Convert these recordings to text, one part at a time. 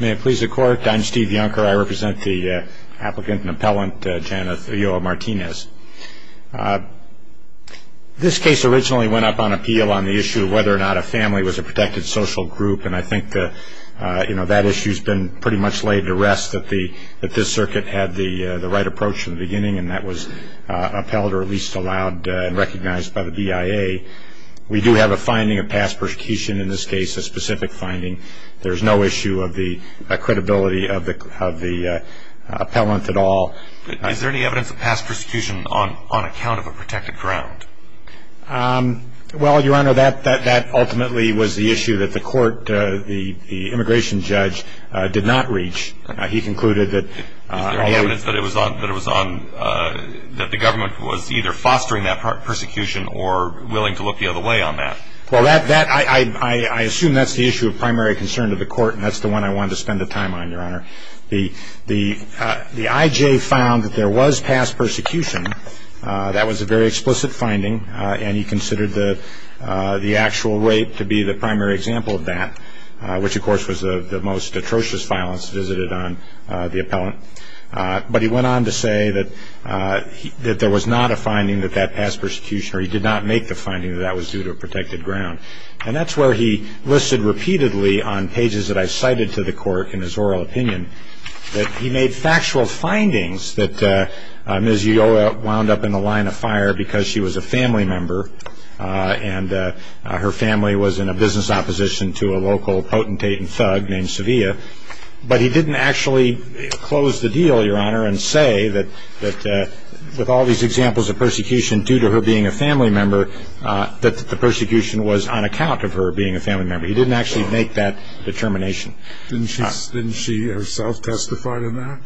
May it please the court, I'm Steve Younker. I represent the applicant and appellant, Janet Ulloa-Martinez. This case originally went up on appeal on the issue of whether or not a family was a protected social group and I think that issue has been pretty much laid to rest, that this circuit had the right approach in the beginning and that was appealed or at least allowed and recognized by the BIA. We do have a finding of past persecution in this case, a specific finding. There's no issue of the credibility of the appellant at all. Is there any evidence of past persecution on account of a protected ground? Well, Your Honor, that ultimately was the issue that the court, the immigration judge, did not reach. Is there any evidence that the government was either fostering that persecution or willing to look the other way on that? Well, I assume that's the issue of primary concern to the court and that's the one I wanted to spend the time on, Your Honor. The IJ found that there was past persecution. That was a very explicit finding and he considered the actual rape to be the primary example of that, which of course was the most atrocious violence visited on the appellant. But he went on to say that there was not a finding that that past persecution or he did not make the finding that that was due to a protected ground and that's where he listed repeatedly on pages that I cited to the court in his oral opinion that he made factual findings that Ms. Ulloa wound up in the line of fire because she was a family member and her family was in a business opposition to a local potentate and thug named Sevilla. But he didn't actually close the deal, Your Honor, and say that with all these examples of persecution due to her being a family member that the persecution was on account of her being a family member. He didn't actually make that determination. Didn't she herself testify to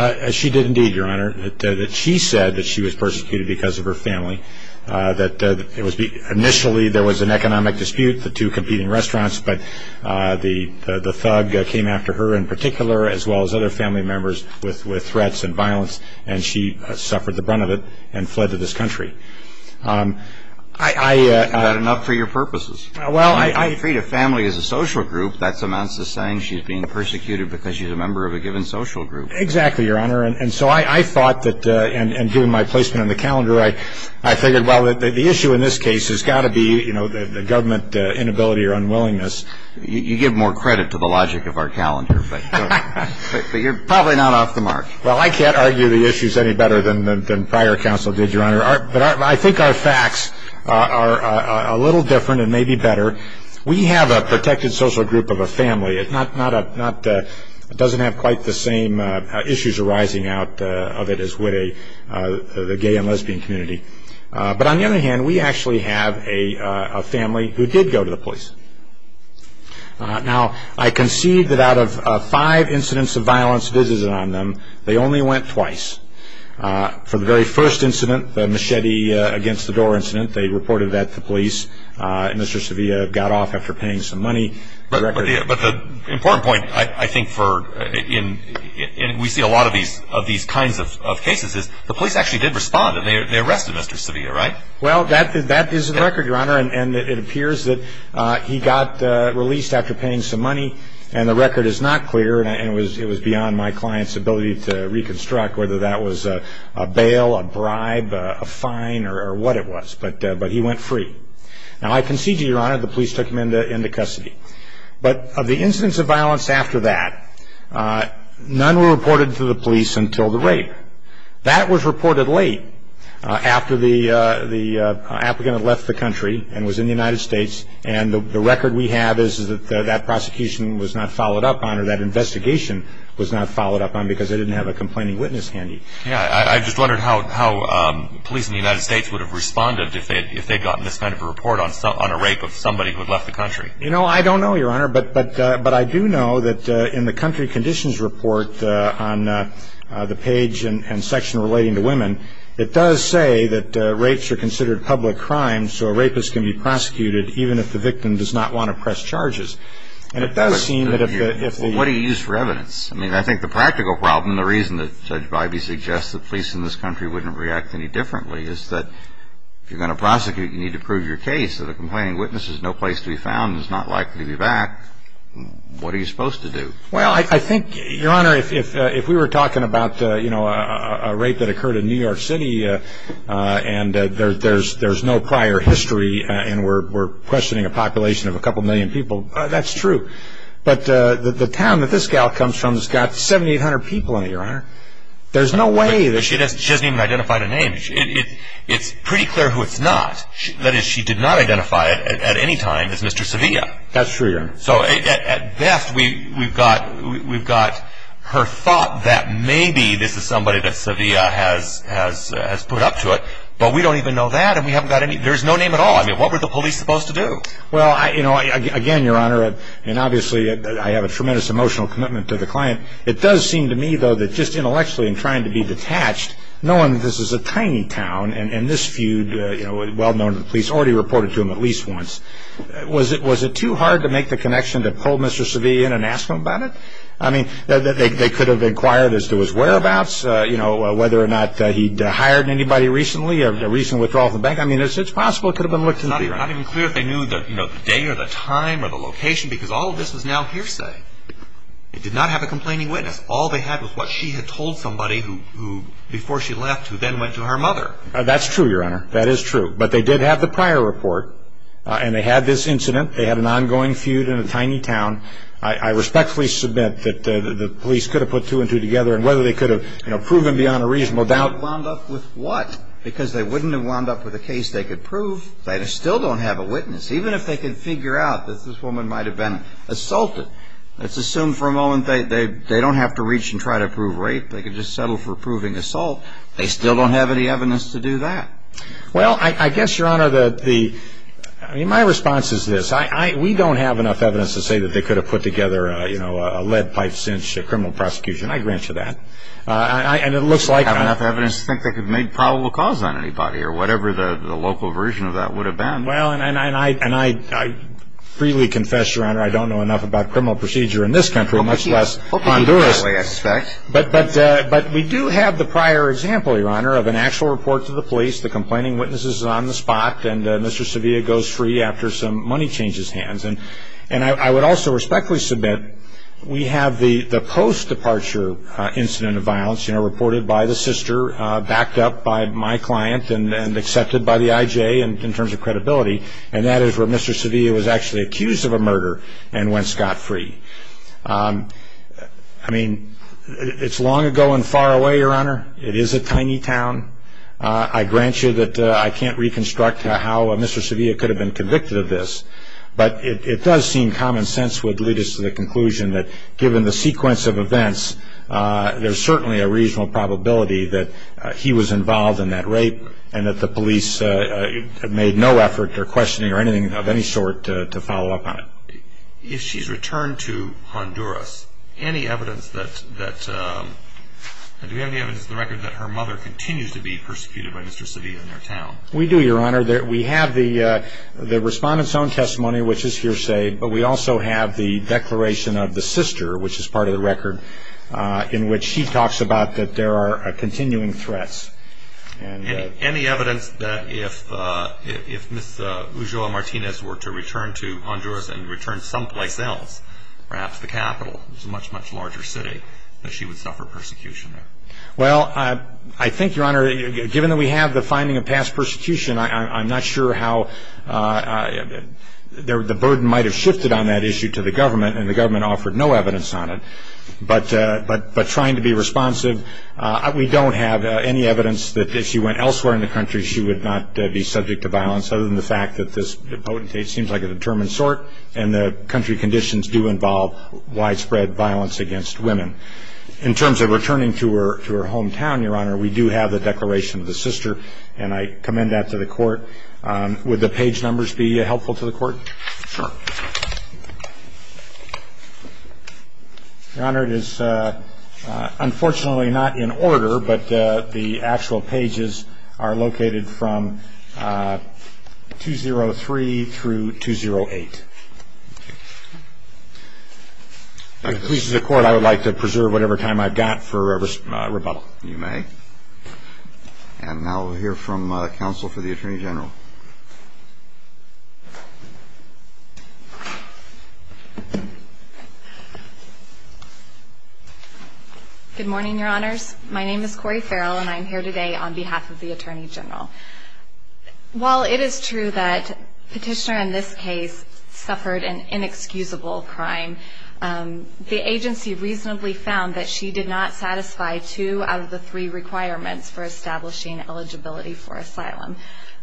that? She did indeed, Your Honor. She said that she was persecuted because of her family, that initially there was an economic dispute, the two competing restaurants, but the thug came after her in particular as well as other family members with threats and violence and she suffered the brunt of it and fled to this country. Is that enough for your purposes? Well, I agree that family is a social group. That amounts to saying she's being persecuted because she's a member of a given social group. Exactly, Your Honor. And so I thought that in doing my placement in the calendar, I figured, well, the issue in this case has got to be the government inability or unwillingness. You give more credit to the logic of our calendar, but you're probably not off the mark. Well, I can't argue the issues any better than prior counsel did, Your Honor. But I think our facts are a little different and maybe better. We have a protected social group of a family. It doesn't have quite the same issues arising out of it as would the gay and lesbian community. But on the other hand, we actually have a family who did go to the police. Now, I concede that out of five incidents of violence visited on them, they only went twice. For the very first incident, the machete against the door incident, they reported that to police, and Mr. Sevilla got off after paying some money. But the important point, I think, we see a lot of these kinds of cases is the police actually did respond, and they arrested Mr. Sevilla, right? Well, that is the record, Your Honor. And it appears that he got released after paying some money, and the record is not clear, and it was beyond my client's ability to reconstruct whether that was a bail, a bribe, a fine, or what it was. But he went free. Now, I concede to you, Your Honor, the police took him into custody. But of the incidents of violence after that, none were reported to the police until the rape. That was reported late after the applicant had left the country and was in the United States, and the record we have is that that prosecution was not followed up on or that investigation was not followed up on because they didn't have a complaining witness handy. Yeah, I just wondered how police in the United States would have responded if they had gotten this kind of a report on a rape of somebody who had left the country. You know, I don't know, Your Honor, but I do know that in the country conditions report on the page and section relating to women, it does say that rapes are considered public crimes, so a rapist can be prosecuted even if the victim does not want to press charges. And it does seem that if the... What do you use for evidence? I mean, I think the practical problem and the reason that Judge Bybee suggests that police in this country wouldn't react any differently is that if you're going to prosecute, you need to prove your case that a complaining witness is no place to be found and is not likely to be back. What are you supposed to do? Well, I think, Your Honor, if we were talking about, you know, a rape that occurred in New York City and there's no prior history and we're questioning a population of a couple million people, that's true. But the town that this gal comes from has got 7,800 people in it, Your Honor. There's no way that she... She hasn't even identified a name. It's pretty clear who it's not. That is, she did not identify at any time as Mr. Sevilla. That's true, Your Honor. So at best, we've got her thought that maybe this is somebody that Sevilla has put up to it, but we don't even know that and we haven't got any... There's no name at all. I mean, what were the police supposed to do? Well, you know, again, Your Honor, and obviously I have a tremendous emotional commitment to the client, it does seem to me, though, that just intellectually in trying to be detached, knowing that this is a tiny town and this feud, well known to the police, already reported to them at least once, was it too hard to make the connection to call Mr. Sevilla in and ask him about it? I mean, they could have inquired as to his whereabouts, you know, whether or not he'd hired anybody recently, a recent withdrawal from the bank. I mean, it's possible it could have been looked into. It's not even clear if they knew the day or the time or the location because all of this was now hearsay. It did not have a complaining witness. All they had was what she had told somebody before she left who then went to her mother. That's true, Your Honor. That is true. But they did have the prior report and they had this incident. They had an ongoing feud in a tiny town. I respectfully submit that the police could have put two and two together and whether they could have proven beyond a reasonable doubt... Wound up with what? Because they wouldn't have wound up with a case they could prove. They still don't have a witness. Even if they could figure out that this woman might have been assaulted, let's assume for a moment they don't have to reach and try to prove rape. They could just settle for proving assault. They still don't have any evidence to do that. Well, I guess, Your Honor, my response is this. We don't have enough evidence to say that they could have put together a lead pipe since criminal prosecution. I grant you that. We don't have enough evidence to think they could have made probable cause on anybody or whatever the local version of that would have been. Well, and I freely confess, Your Honor, I don't know enough about criminal procedure in this country, much less Honduras. But we do have the prior example, Your Honor, of an actual report to the police. The complaining witness is on the spot, and Mr. Sevilla goes free after some money changes hands. And I would also respectfully submit we have the post-departure incident of violence reported by the sister, backed up by my client and accepted by the IJ in terms of credibility, and that is where Mr. Sevilla was actually accused of a murder and went scot-free. I mean, it's long ago and far away, Your Honor. It is a tiny town. I grant you that I can't reconstruct how Mr. Sevilla could have been convicted of this, but it does seem common sense would lead us to the conclusion that given the sequence of events, there's certainly a regional probability that he was involved in that rape and that the police have made no effort or questioning or anything of any sort to follow up on it. If she's returned to Honduras, any evidence that her mother continues to be persecuted by Mr. Sevilla in their town? We do, Your Honor. We have the respondent's own testimony, which is hearsay, but we also have the declaration of the sister, which is part of the record, in which she talks about that there are continuing threats. Any evidence that if Ms. Ulloa Martinez were to return to Honduras and return someplace else, perhaps the capital, which is a much, much larger city, that she would suffer persecution there? Well, I think, Your Honor, given that we have the finding of past persecution, I'm not sure how the burden might have shifted on that issue to the government, and the government offered no evidence on it. But trying to be responsive, we don't have any evidence that if she went elsewhere in the country, she would not be subject to violence other than the fact that this potentate seems like a determined sort, and the country conditions do involve widespread violence against women. In terms of returning to her hometown, Your Honor, we do have the declaration of the sister, and I commend that to the court. Would the page numbers be helpful to the court? Sure. Your Honor, it is unfortunately not in order, but the actual pages are located from 203 through 208. If it pleases the court, I would like to preserve whatever time I've got for rebuttal. You may. And now we'll hear from counsel for the Attorney General. Good morning, Your Honors. My name is Corey Farrell, and I'm here today on behalf of the Attorney General. While it is true that Petitioner in this case suffered an inexcusable crime, the agency reasonably found that she did not satisfy two out of the three requirements for establishing eligibility for asylum.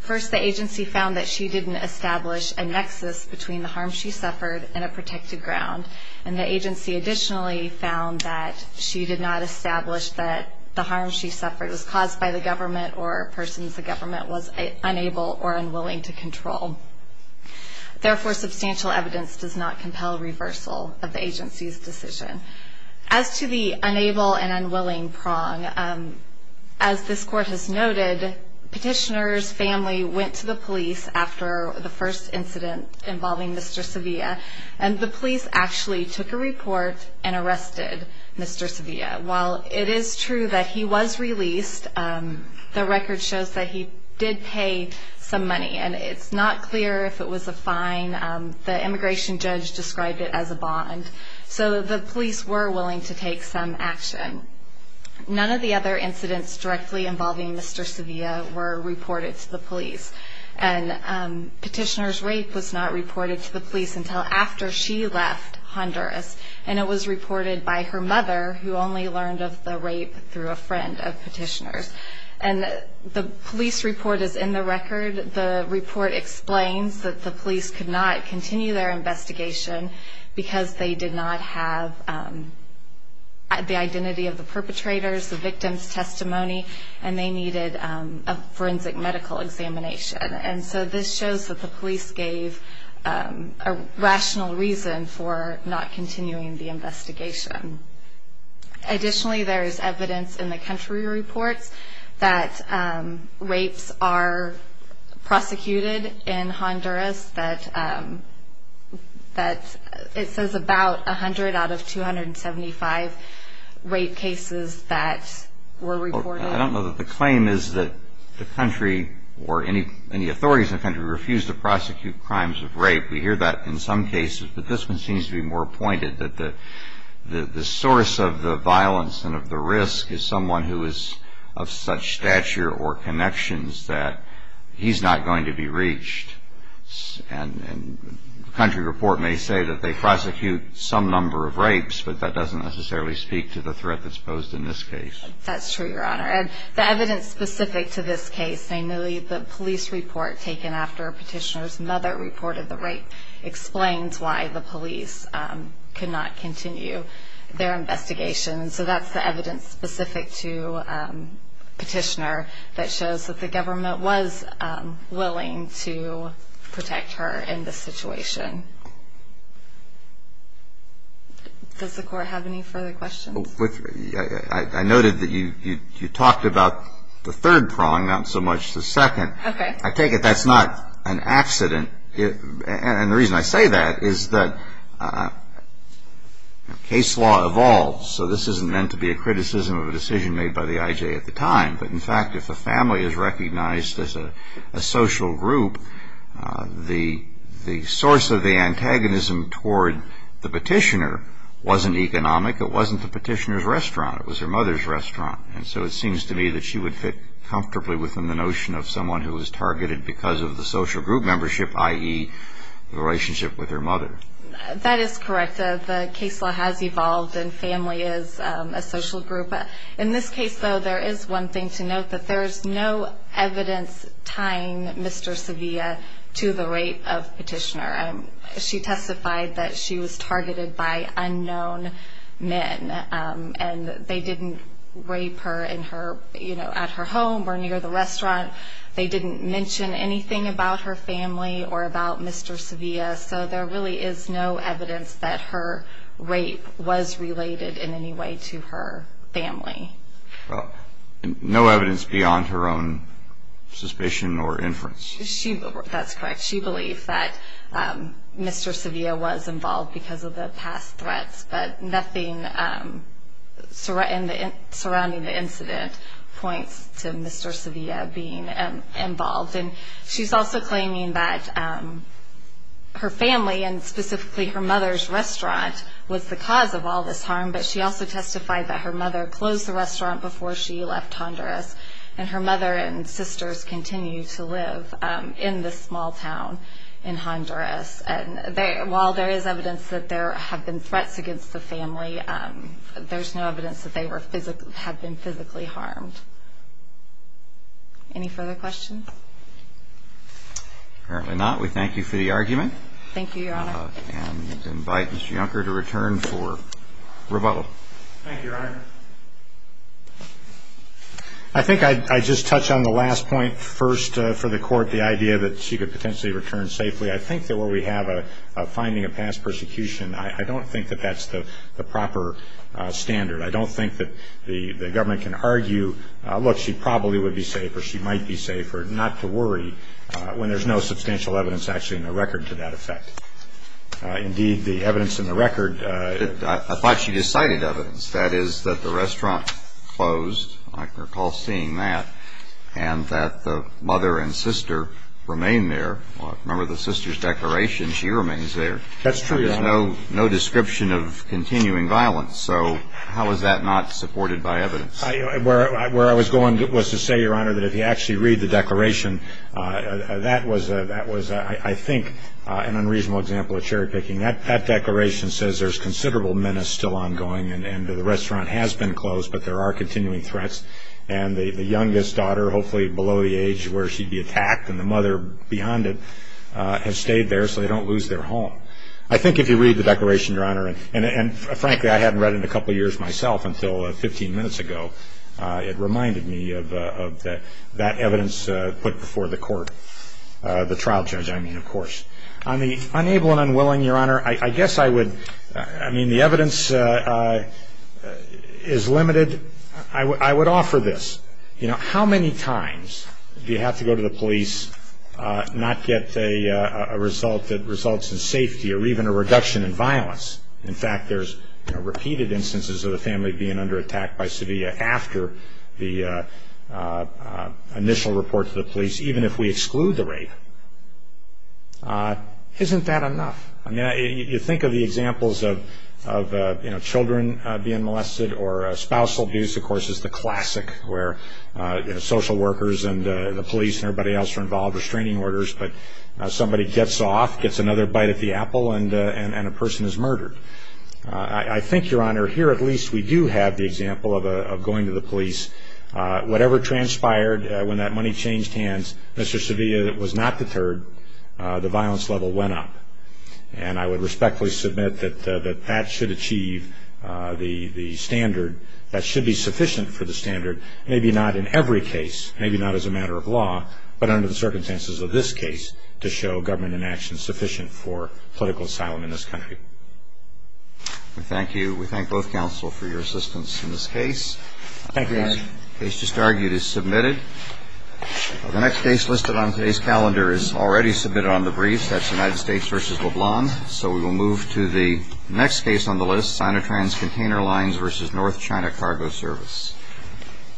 First, the agency found that she didn't establish a nexus between the harm she suffered and a protected ground, and the agency additionally found that she did not establish that the harm she suffered was caused by the government or persons the government was unable or unwilling to control. Therefore, substantial evidence does not compel reversal of the agency's decision. As to the unable and unwilling prong, as this court has noted, Petitioner's family went to the police after the first incident involving Mr. Sevilla, and the police actually took a report and arrested Mr. Sevilla. While it is true that he was released, the record shows that he did pay some money, and it's not clear if it was a fine. The immigration judge described it as a bond. So the police were willing to take some action. None of the other incidents directly involving Mr. Sevilla were reported to the police, and Petitioner's rape was not reported to the police until after she left Honduras, and it was reported by her mother, who only learned of the rape through a friend of Petitioner's. And the police report is in the record. The report explains that the police could not continue their investigation because they did not have the identity of the perpetrators, the victim's testimony, and they needed a forensic medical examination. And so this shows that the police gave a rational reason for not continuing the investigation. Additionally, there is evidence in the country reports that rapes are prosecuted in Honduras, that it says about 100 out of 275 rape cases that were reported. I don't know that the claim is that the country or any authorities in the country refuse to prosecute crimes of rape. We hear that in some cases, but this one seems to be more pointed, that the source of the violence and of the risk is someone who is of such stature or connections that he's not going to be reached. And the country report may say that they prosecute some number of rapes, but that doesn't necessarily speak to the threat that's posed in this case. That's true, Your Honor. And the evidence specific to this case, namely the police report taken after Petitioner's mother reported the rape, explains why the police could not continue their investigation. And so that's the evidence specific to Petitioner that shows that the government was willing to protect her in this situation. Does the Court have any further questions? I noted that you talked about the third prong, not so much the second. Okay. I take it that's not an accident. And the reason I say that is that case law evolves, so this isn't meant to be a criticism of a decision made by the IJ at the time. But, in fact, if a family is recognized as a social group, the source of the antagonism toward the Petitioner wasn't economic, it wasn't the Petitioner's restaurant, it was her mother's restaurant. And so it seems to me that she would fit comfortably within the notion of someone who was targeted because of the social group membership, i.e., the relationship with her mother. That is correct. The case law has evolved, and family is a social group. In this case, though, there is one thing to note, that there is no evidence tying Mr. Sevilla to the rape of Petitioner. She testified that she was targeted by unknown men, and they didn't rape her at her home or near the restaurant. They didn't mention anything about her family or about Mr. Sevilla. So there really is no evidence that her rape was related in any way to her family. No evidence beyond her own suspicion or inference. That's correct. She believed that Mr. Sevilla was involved because of the past threats, but nothing surrounding the incident points to Mr. Sevilla being involved. And she's also claiming that her family, and specifically her mother's restaurant, was the cause of all this harm, but she also testified that her mother closed the restaurant before she left Honduras, and her mother and sisters continue to live in this small town in Honduras. And while there is evidence that there have been threats against the family, there's no evidence that they have been physically harmed. Any further questions? Apparently not. We thank you for the argument. Thank you, Your Honor. And invite Mr. Yunker to return for rebuttal. Thank you, Your Honor. I think I'd just touch on the last point first for the court, the idea that she could potentially return safely. I think that where we have a finding of past persecution, I don't think that that's the proper standard. I don't think that the government can argue, look, she probably would be safe or she might be safe, or not to worry when there's no substantial evidence actually in the record to that effect. Indeed, the evidence in the record. I thought she just cited evidence. That is that the restaurant closed, I recall seeing that, and that the mother and sister remain there. Remember the sister's declaration, she remains there. That's true, Your Honor. There's no description of continuing violence. So how is that not supported by evidence? Where I was going was to say, Your Honor, that if you actually read the declaration, that was I think an unreasonable example of cherry picking. That declaration says there's considerable menace still ongoing, and the restaurant has been closed, but there are continuing threats. And the youngest daughter, hopefully below the age where she'd be attacked, and the mother beyond it have stayed there so they don't lose their home. I think if you read the declaration, Your Honor, and frankly, I hadn't read it in a couple years myself until 15 minutes ago, it reminded me of that evidence put before the court, the trial judge, I mean, of course. On the unable and unwilling, Your Honor, I guess I would, I mean, the evidence is limited. I would offer this. You know, how many times do you have to go to the police, not get a result that results in safety or even a reduction in violence? In fact, there's repeated instances of the family being under attack by Sevilla after the initial report to the police, even if we exclude the rape. Isn't that enough? I mean, you think of the examples of children being molested or spousal abuse, of course, is the classic, where social workers and the police and everybody else are involved, restraining orders, but somebody gets off, gets another bite at the apple, and a person is murdered. I think, Your Honor, here at least we do have the example of going to the police. Whatever transpired when that money changed hands, Mr. Sevilla was not deterred. The violence level went up. And I would respectfully submit that that should achieve the standard, that should be sufficient for the standard, maybe not in every case, maybe not as a matter of law, but under the circumstances of this case, to show government inaction sufficient for political asylum in this country. Thank you. We thank both counsel for your assistance in this case. Thank you, Your Honor. The case just argued is submitted. The next case listed on today's calendar is already submitted on the briefs. That's United States v. LeBlanc. So we will move to the next case on the list, Sinotrans Container Lines v. North China Cargo Service.